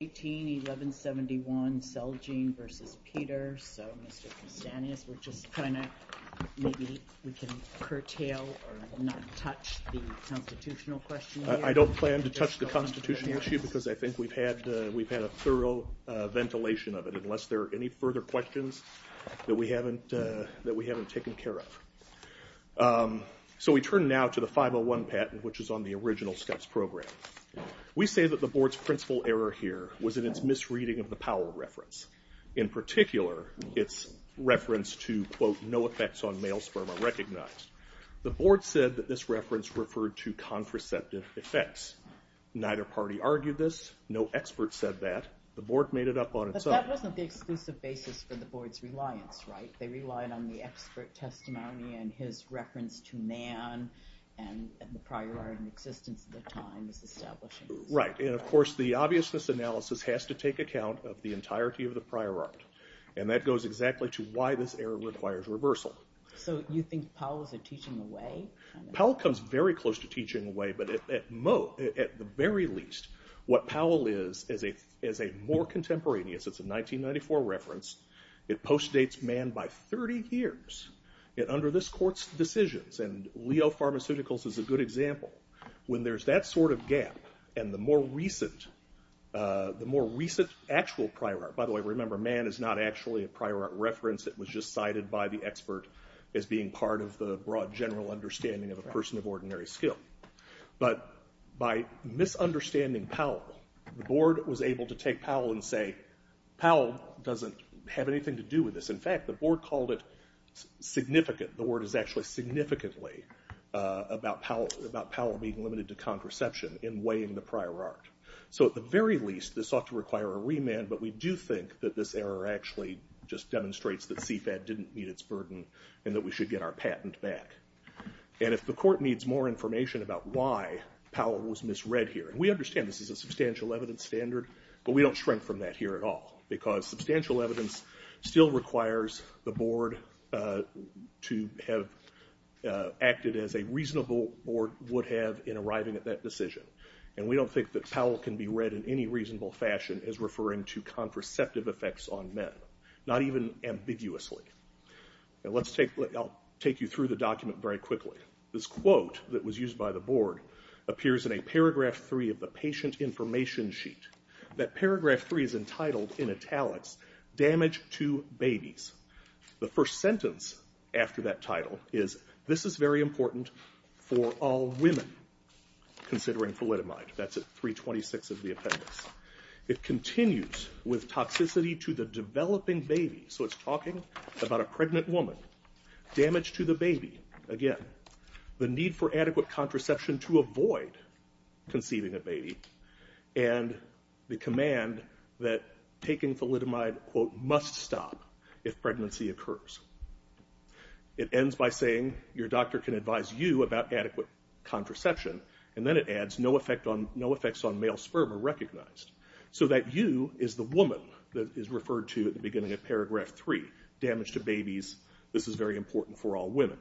18, 1171 Selgene v. Peter, so Mr. Konstantopoulos, we're just trying to, maybe we can curtail or not touch the constitutional question here. I don't plan to touch the constitutional issue because I think we've had a thorough ventilation of it, unless there are any further questions that we haven't taken care of. So we turn now to the 501 patent, which is on the original steps program. We say that the board's principal error here was in its misreading of the Powell reference. In particular, its reference to, quote, no effects on male sperm are recognized. The board said that this reference referred to contraceptive effects. Neither party argued this. No expert said that. The board made it up on its own. But that wasn't the exclusive basis for the board's reliance, right? They relied on the expert testimony and his reference to Nan and the prior art in existence of the time it's establishing. Right, and of course, the obviousness analysis has to take account of the entirety of the prior art. And that goes exactly to why this error requires reversal. So you think Powell's a teaching away? Powell comes very close to teaching away. But at the very least, what Powell is, is a more contemporaneous, it's a 1994 reference. It postdates Mann by 30 years. Yet under this court's decisions, and Leo Pharmaceuticals is a good example, when there's that sort of gap, and the more recent actual prior art. By the way, remember, Mann is not actually a prior art reference. It was just cited by the expert as being part of the broad general understanding of a person of ordinary skill. But by misunderstanding Powell, the board was able to take Powell and say, Powell doesn't have anything to do with this. In fact, the board called it significant. The board is actually significantly about Powell being limited to contraception in weighing the prior art. So at the very least, this ought to require a remand. But we do think that this error actually just demonstrates that CFAD didn't meet its burden, and that we should get our patent back. And if the court needs more information about why Powell was misread here, and we understand this is a substantial evidence standard, but we don't shrink from that here at all. Because substantial evidence still requires the board to have acted as a reasonable board would have in arriving at that decision. And we don't think that Powell can be read in any reasonable fashion as referring to contraceptive effects on men, not even ambiguously. And let's take, I'll take you through the document very quickly. This quote that was used by the board appears in a paragraph three of the patient information sheet. That paragraph three is entitled, in italics, Damage to Babies. The first sentence after that title is, this is very important for all women, considering thalidomide. That's at 326 of the appendix. It continues with toxicity to the developing baby. So it's talking about a pregnant woman. Damage to the baby, again. The need for adequate contraception to avoid conceiving a baby. And the command that taking thalidomide, quote, must stop if pregnancy occurs. It ends by saying, your doctor can advise you about adequate contraception. And then it adds, no effects on male sperm are recognized. So that you is the woman that is referred to at the beginning of paragraph three. Damage to babies, this is very important for all women.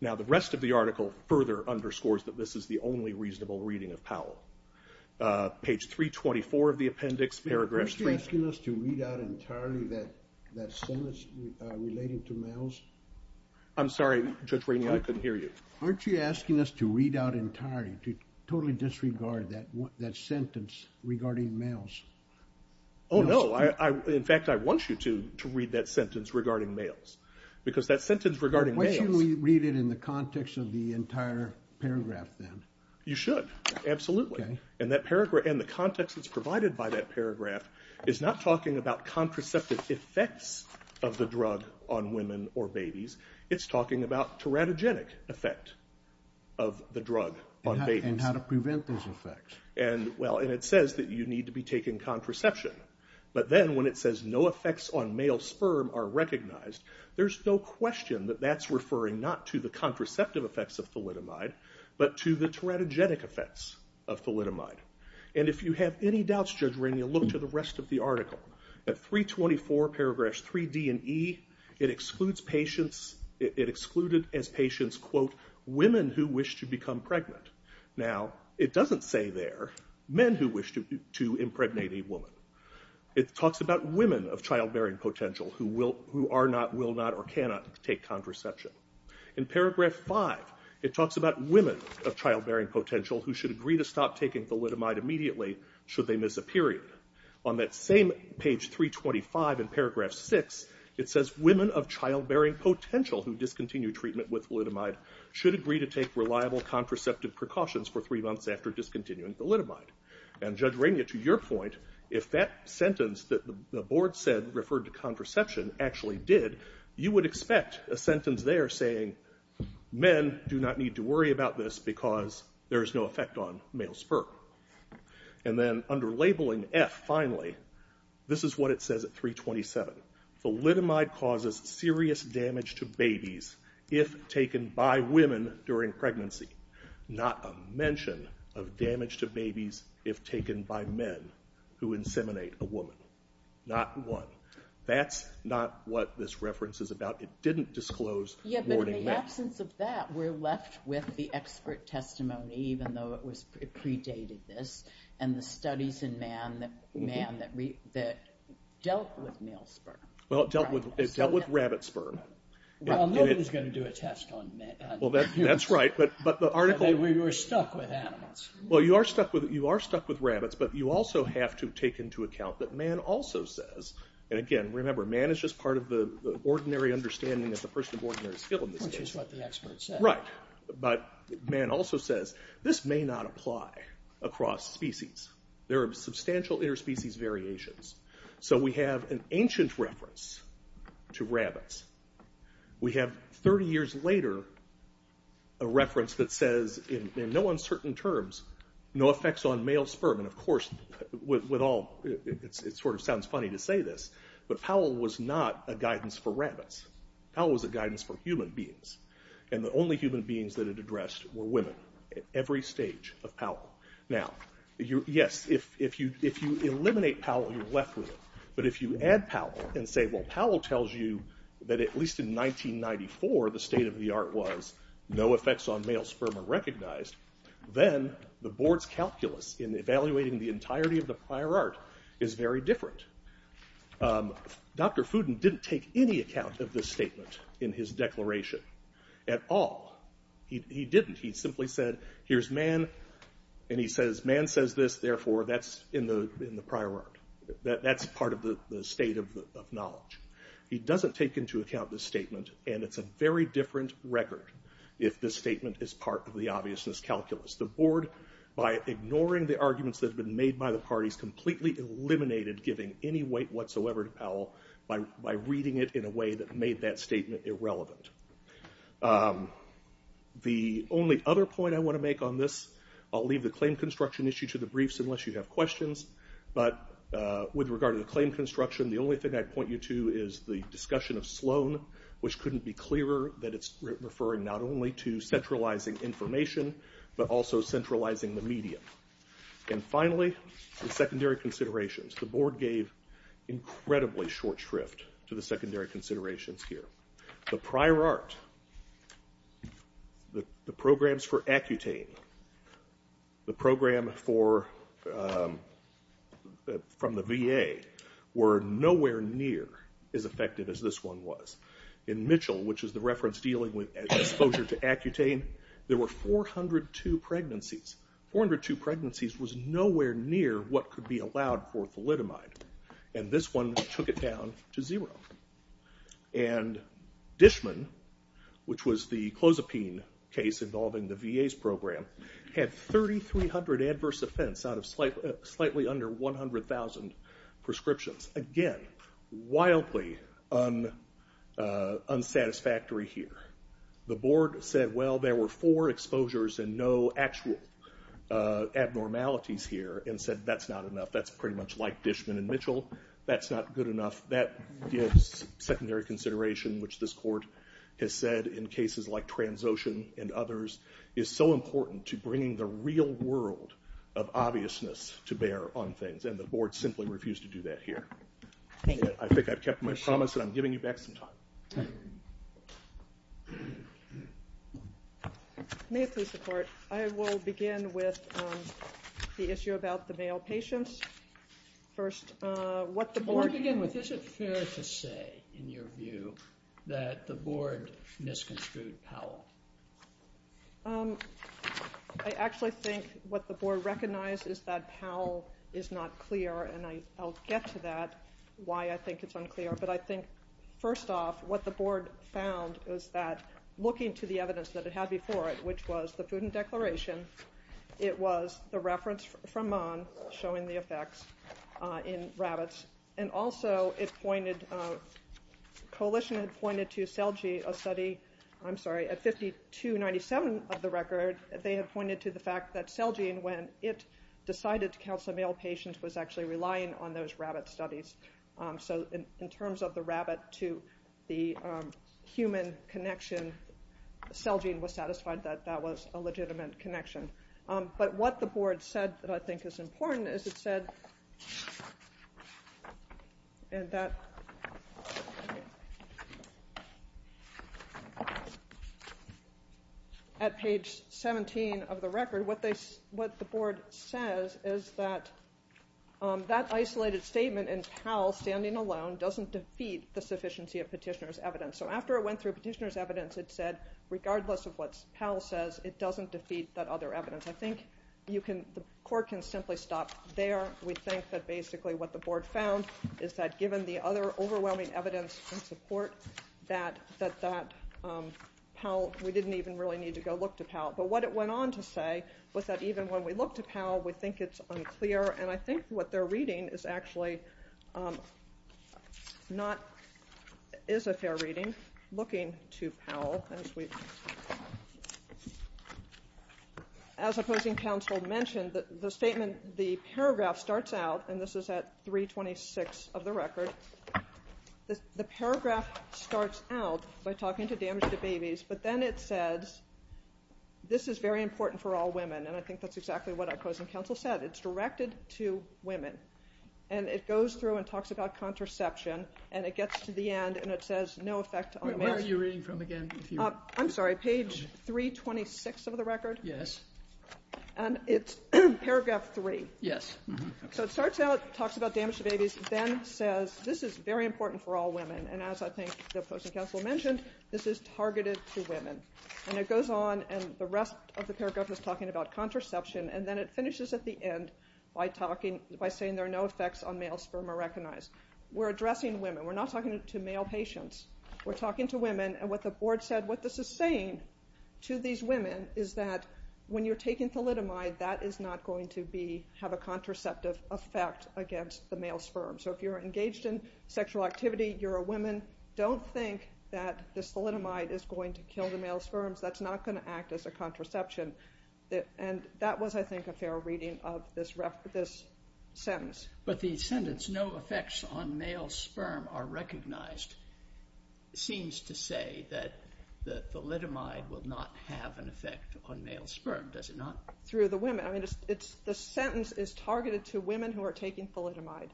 Now the rest of the article further underscores that this is the only reasonable reading of Powell. Page 324 of the appendix, paragraph three. Aren't you asking us to read out entirely that sentence relating to males? I'm sorry, Judge Rainey, I couldn't hear you. Aren't you asking us to read out entirely, to totally disregard that sentence regarding males? Oh no, in fact I want you to read that sentence regarding males. Because that sentence regarding males. Why shouldn't we read it in the context of the entire paragraph then? You should, absolutely. And that paragraph, and the context that's provided by that paragraph, is not talking about contraceptive effects of the drug on women or babies. It's talking about teratogenic effect of the drug on babies. And how to prevent those effects. And well, and it says that you need to be taking contraception. But then when it says no effects on male sperm are recognized, there's no question that that's referring not to the contraceptive effects of teratogenic effects of thalidomide. And if you have any doubts, Judge Rainey, look to the rest of the article. At 324, paragraphs 3D and E, it excludes patients, it excluded as patients, quote, women who wish to become pregnant. Now, it doesn't say there, men who wish to impregnate a woman. It talks about women of childbearing potential who are not, will not, or cannot take contraception. In paragraph five, it talks about women of childbearing potential who should agree to stop taking thalidomide immediately should they miss a period. On that same page 325 in paragraph six, it says women of childbearing potential who discontinue treatment with thalidomide should agree to take reliable contraceptive precautions for three months after discontinuing thalidomide. And Judge Rainey, to your point, if that sentence that the board said referred to contraception actually did, you would expect a sentence there saying, men do not need to worry about this because there is no effect on male spurt. And then under labeling F, finally, this is what it says at 327. Thalidomide causes serious damage to babies if taken by women during pregnancy. Not a mention of damage to babies if taken by men who inseminate a woman. Not one. That's not what this reference is about. It didn't disclose warning men. Yeah, but in the absence of that, we're left with the expert testimony, even though it predated this. And the studies in man that dealt with male sperm. Well, it dealt with rabbit sperm. Well, nobody's going to do a test on men. Well, that's right, but the article. We were stuck with animals. Well, you are stuck with rabbits, but you also have to take into account that man also says, and again, remember, man is just part of the ordinary understanding of the person of ordinary skill in this case. Which is what the expert said. Right, but man also says, this may not apply across species. There are substantial interspecies variations. So we have an ancient reference to rabbits. We have 30 years later, a reference that says, in no uncertain terms, no effects on male sperm. And of course, it sort of sounds funny to say this, but Powell was not a guidance for rabbits. Powell was a guidance for human beings. And the only human beings that it addressed were women. Every stage of Powell. Now, yes, if you eliminate Powell, you're left with it. But if you add Powell and say, well, Powell tells you that at least in 1994, the state of the art was, no effects on male sperm are recognized. Then the board's calculus in evaluating the entirety of the prior art is very different. Dr. Fuden didn't take any account of this statement in his declaration at all. He didn't. He simply said, here's man, and he says, man says this, therefore, that's in the prior art. That's part of the state of knowledge. He doesn't take into account the statement, and it's a very different record if the statement is part of the obviousness calculus. The board, by ignoring the arguments that have been made by the parties, completely eliminated giving any weight whatsoever to Powell by reading it in a way that made that statement irrelevant. The only other point I want to make on this, I'll leave the claim construction issue to the briefs unless you have questions. But with regard to the claim construction, the only thing I'd point you to is the discussion of Sloan, which couldn't be clearer that it's referring not only to centralizing information, but also centralizing the medium. And finally, the secondary considerations. The board gave incredibly short shrift to the secondary considerations here. The prior art, the programs for Accutane, the program from the VA, were nowhere near as effective as this one was. In Mitchell, which is the reference dealing with exposure to Accutane, there were 402 pregnancies. 402 pregnancies was nowhere near what could be allowed for Thalidomide. And this one took it down to zero. And Dishman, which was the Clozapine case involving the VA's program, had 3,300 adverse offense out of slightly under 100,000 prescriptions. Again, wildly unsatisfactory here. The board said, well, there were four exposures and no actual abnormalities here, and said that's not enough. That's pretty much like Dishman and Mitchell. That's not good enough. That gives secondary consideration, which this court has said in cases like Transocean and others, is so important to bringing the real world of obviousness to bear on things. And the board simply refused to do that here. I think I've kept my promise, and I'm giving you back some time. May I please support? I will begin with the issue about the male patients. First, what the board. Is it fair to say, in your view, that the board misconstrued Powell? I actually think what the board recognized is that Powell is not clear. And I'll get to that, why I think it's unclear. But I think, first off, what the board found is that, looking to the evidence that it had before it, which was the food and declaration, it was the reference from Mann showing the effects in rabbits. And also, Coalition had pointed to Celgene, a study, I'm sorry, at 5297 of the record, they had pointed to the fact that Celgene, when it decided to counsel a male patient, was actually relying on those rabbit studies. So in terms of the rabbit to the human connection, Celgene was satisfied that that was a legitimate connection. But what the board said that I think is important is it said, at page 17 of the record, what the board says is that that isolated statement in Powell standing alone doesn't defeat the sufficiency of petitioner's evidence. So after it went through petitioner's evidence, it said, regardless of what Powell says, it doesn't defeat that other evidence. I think the court can simply stop there. We think that, basically, what the board found is that, given the other overwhelming evidence in support, that we didn't even really need to go look to Powell. But what it went on to say was that, even when we look to Powell, we think it's unclear. And I think what they're reading is actually not is a fair reading. Looking to Powell, as opposing counsel mentioned, the paragraph starts out. And this is at 326 of the record. The paragraph starts out by talking to damage to babies. But then it says, this is very important for all women. And I think that's exactly what opposing counsel said. It's directed to women. And it goes through and talks about contraception. And it gets to the end. And it says, no effect on males. Where are you reading from again? I'm sorry, page 326 of the record? Yes. And it's paragraph three. Yes. So it starts out, talks about damage to babies, then says, this is very important for all women. And as I think the opposing counsel mentioned, this is targeted to women. And it goes on. And the rest of the paragraph is talking about contraception. And then it finishes at the end by saying, there are no effects on male sperm are recognized. We're addressing women. We're not talking to male patients. We're talking to women. And what the board said, what this is saying to these women is that when you're taking thalidomide, that is not going to have a contraceptive effect against the male sperm. So if you're engaged in sexual activity, you're a woman, don't think that this thalidomide is going to kill the male sperms. That's not going to act as a contraception. And that was, I think, a fair reading of this sentence. But the sentence, no effects on male sperm are recognized, seems to say that the thalidomide will not have an effect on male sperm, does it not? Through the women. The sentence is targeted to women who are taking thalidomide,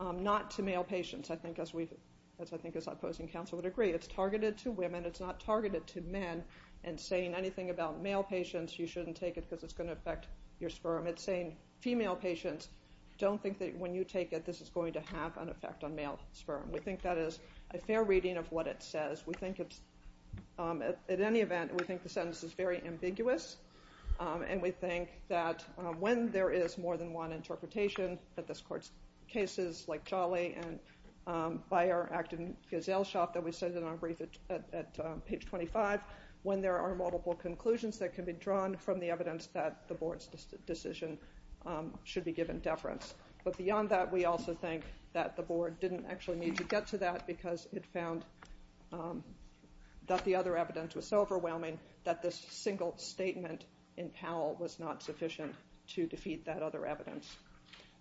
not to male patients, I think, as I think this opposing counsel would agree. It's targeted to women. It's not targeted to men. And saying anything about male patients, you shouldn't take it because it's going to affect your sperm. It's saying female patients, don't think that when you take it, this is going to have an effect on male sperm. We think that is a fair reading of what it says. We think it's, at any event, we think the sentence is very ambiguous. And we think that when there is more than one interpretation, that this court's cases like Jolly and Byer, Acton-Gazelle Shoppe, that we said in our brief at page 25, when there are multiple conclusions that the board's decision should be given deference. But beyond that, we also think that the board didn't actually need to get to that because it found that the other evidence was so overwhelming that this single statement in Powell was not sufficient to defeat that other evidence.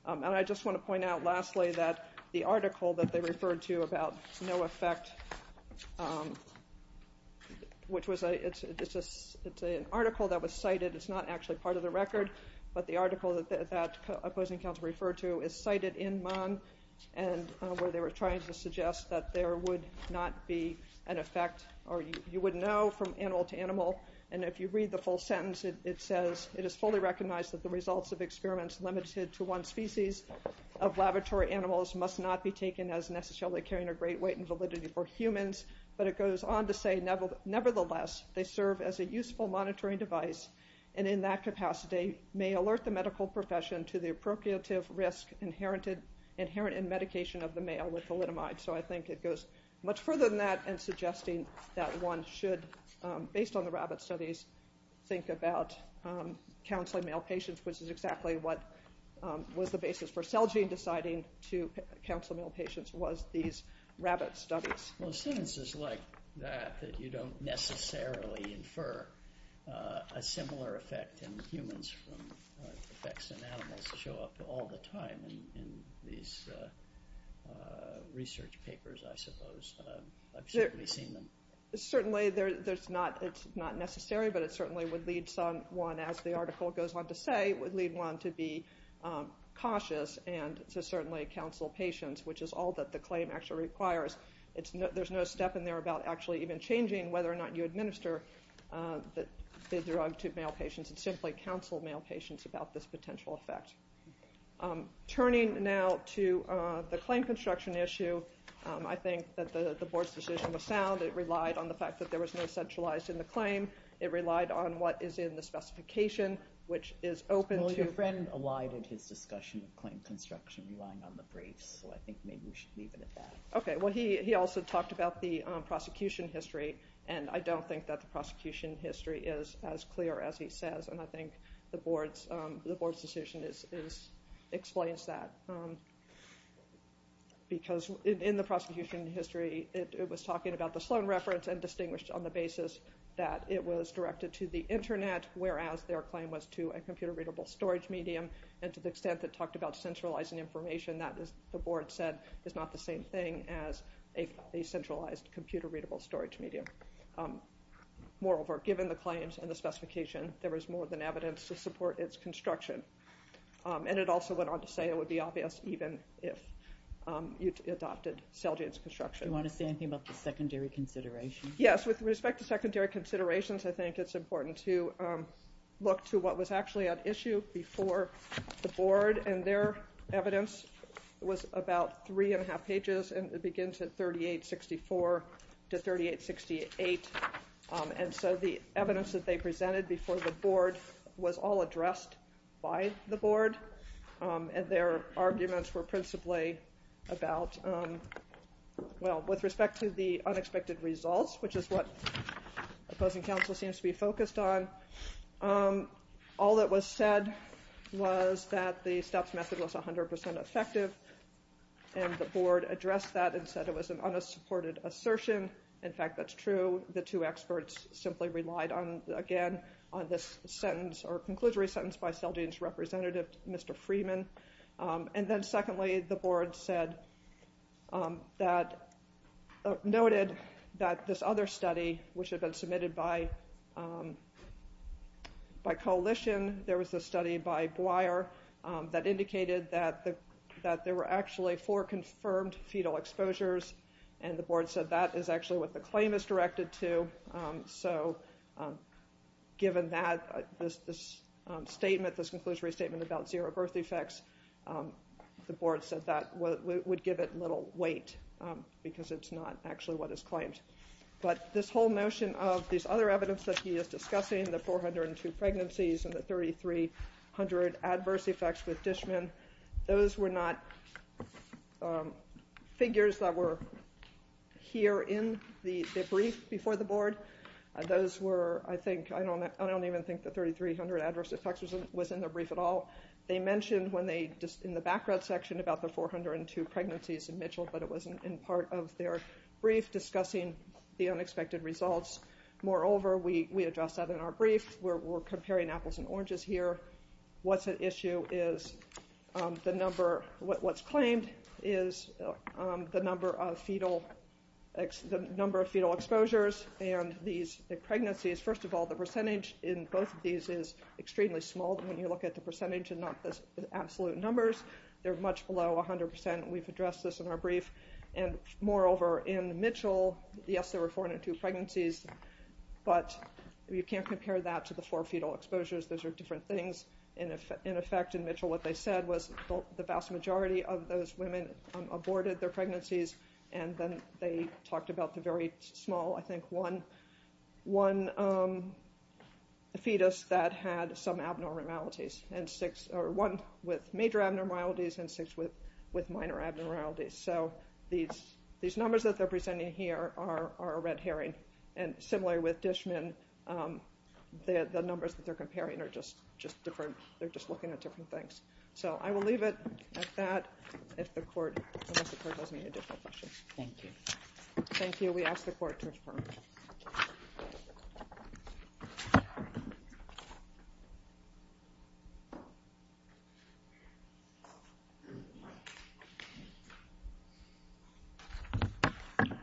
And I just want to point out lastly that the article that they referred to about no effect, which was an article that was cited. It's not actually part of the record. But the article that opposing counsel referred to is cited in Mann, where they were trying to suggest that there would not be an effect, or you wouldn't know from animal to animal. And if you read the full sentence, it says, it is fully recognized that the results of experiments limited to one species of laboratory animals must not be taken as necessarily carrying a great weight and validity for humans. But it goes on to say, nevertheless, they serve as a useful monitoring device. And in that capacity, may alert the medical profession to the appropriative risk inherent in medication of the male with thalidomide. So I think it goes much further than that in suggesting that one should, based on the rabbit studies, think about counseling male patients, which is exactly what was the basis for Celgene deciding to counsel male patients was these rabbit studies. Well, sentences like that, that you don't necessarily infer a similar effect in humans from effects in animals show up all the time in these research papers, I suppose. I've certainly seen them. Certainly, it's not necessary, but it certainly would lead someone, as the article goes on to say, would lead one to be cautious and to certainly counsel patients, which is all that the claim actually requires. There's no step in there about actually even changing whether or not you administer the drug to male patients and simply counsel male patients about this potential effect. Turning now to the claim construction issue, I think that the board's decision was sound. It relied on the fact that there was no centralized in the claim. It relied on what is in the specification, which is open to. Well, your friend elided his discussion of claim construction, relying on the briefs. So I think maybe we should leave it at that. Well, he also talked about the prosecution history. And I don't think that the prosecution history is as clear as he says. And I think the board's decision explains that. Because in the prosecution history, it was talking about the Sloan reference and distinguished on the basis that it was directed to the internet, whereas their claim was to a computer-readable storage medium. And to the extent that it talked about centralizing information, that, as the board said, is not the same thing as a centralized computer-readable storage medium. Moreover, given the claims and the specification, there was more than evidence to support its construction. And it also went on to say it would be obvious even if you adopted cell-jance construction. Do you want to say anything about the secondary considerations? Yes, with respect to secondary considerations, I think it's important to look to what was actually at issue before the board. And their evidence was about 3 and 1 half pages. And it begins at 3864 to 3868. And so the evidence that they presented before the board was all addressed by the board. And their arguments were principally about, well, with respect to the unexpected results, which is what opposing counsel seems to be focused on, all that was said was that the Stubbs method was 100% effective. And the board addressed that and said it was an unsupported assertion. In fact, that's true. The two experts simply relied, again, on this sentence or conclusory sentence by cell-jance representative, Mr. Freeman. And then secondly, the board noted that this other study, which had been submitted by coalition, there was a study by Boyer that indicated that there were actually four confirmed fetal exposures. And the board said that is actually what the claim is directed to. So given that, this statement, this conclusory statement about zero birth defects, the board said that would give it little weight because it's not actually what is claimed. But this whole notion of these other evidence that he is discussing, the 402 pregnancies and the 3,300 adverse effects with Dishman, those were not figures that were here in the brief before the board. Those were, I think, I don't even think the 3,300 adverse effects was in the brief at all. They mentioned in the background section about the 402 pregnancies in Mitchell, but it wasn't in part of their brief discussing the unexpected results. Moreover, we addressed that in our brief. We're comparing apples and oranges here. What's at issue is the number, what's claimed is the number of fetal exposures. And these pregnancies, first of all, the percentage in both of these is extremely small when you look at the percentage and not the absolute numbers. They're much below 100%. We've addressed this in our brief. And moreover, in Mitchell, yes, there were 402 pregnancies, but you can't compare that to the four fetal exposures. Those are different things. And in effect, in Mitchell, what they said was the vast majority of those women aborted their pregnancies. And then they talked about the very small, I think, one fetus that had some abnormalities, or one with major abnormalities and six with minor abnormalities. So these numbers that they're presenting here are a red herring. And similarly with Dishman, the numbers that they're comparing are just different. They're just looking at different things. So I will leave it at that, unless the court has any additional questions. Thank you. Thank you. We ask the court to adjourn. Thank you.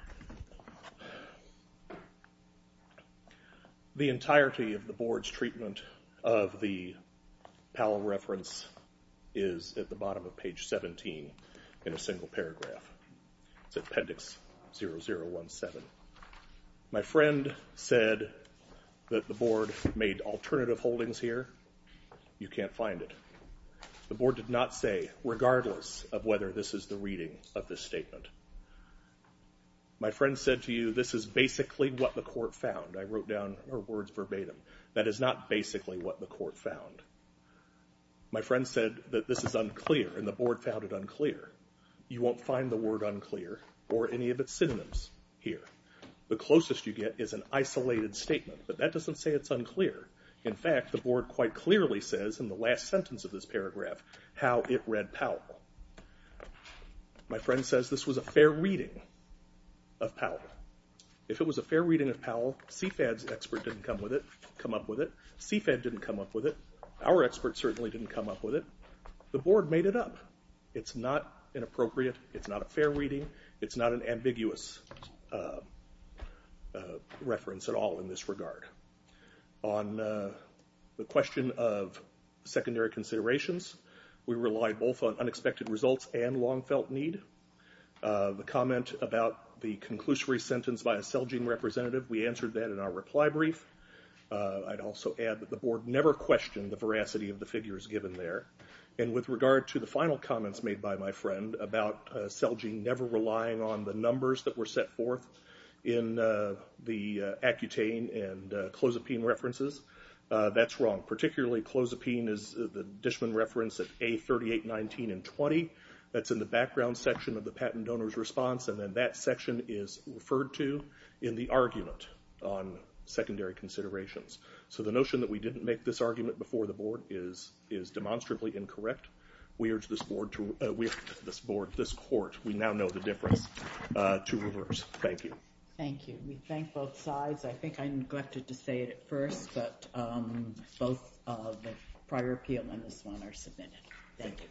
The entirety of the board's treatment of the Powell reference is at the bottom of page 17 in a single paragraph. It's appendix 0017. My friend said that the board made alternative holdings here. You can't find it. The board did not say, regardless of whether this is the reading of this statement, my friend said to you, this is basically what the court found. I wrote down her words verbatim. That is not basically what the court found. My friend said that this is unclear, and the board found it unclear. You won't find the word unclear or any of its synonyms here. The closest you get is an isolated statement, but that doesn't say it's unclear. In fact, the board quite clearly says in the last sentence of this paragraph how it read Powell. My friend says this was a fair reading of Powell. If it was a fair reading of Powell, CFAD's expert didn't come up with it. CFAD didn't come up with it. Our expert certainly didn't come up with it. The board made it up. It's not inappropriate. It's not a fair reading. It's not an ambiguous reference at all in this regard. On the question of secondary considerations, we relied both on unexpected results and long felt need. The comment about the conclusory sentence by a Celgene representative, we answered that in our reply brief. I'd also add that the board never questioned the veracity of the figures given there. And with regard to the final comments made by my friend about Celgene never relying on the numbers that the Accutane and Clozapine references, that's wrong. Particularly Clozapine is the Dishman reference at A38, 19, and 20. That's in the background section of the patent donor's response. And then that section is referred to in the argument on secondary considerations. So the notion that we didn't make this argument before the board is demonstrably incorrect. We urge this board, this court, we now know the difference, to reverse. Thank you. Thank you. We thank both sides. I think I neglected to say it at first, but both the prior appeal and this one are submitted. Thank you.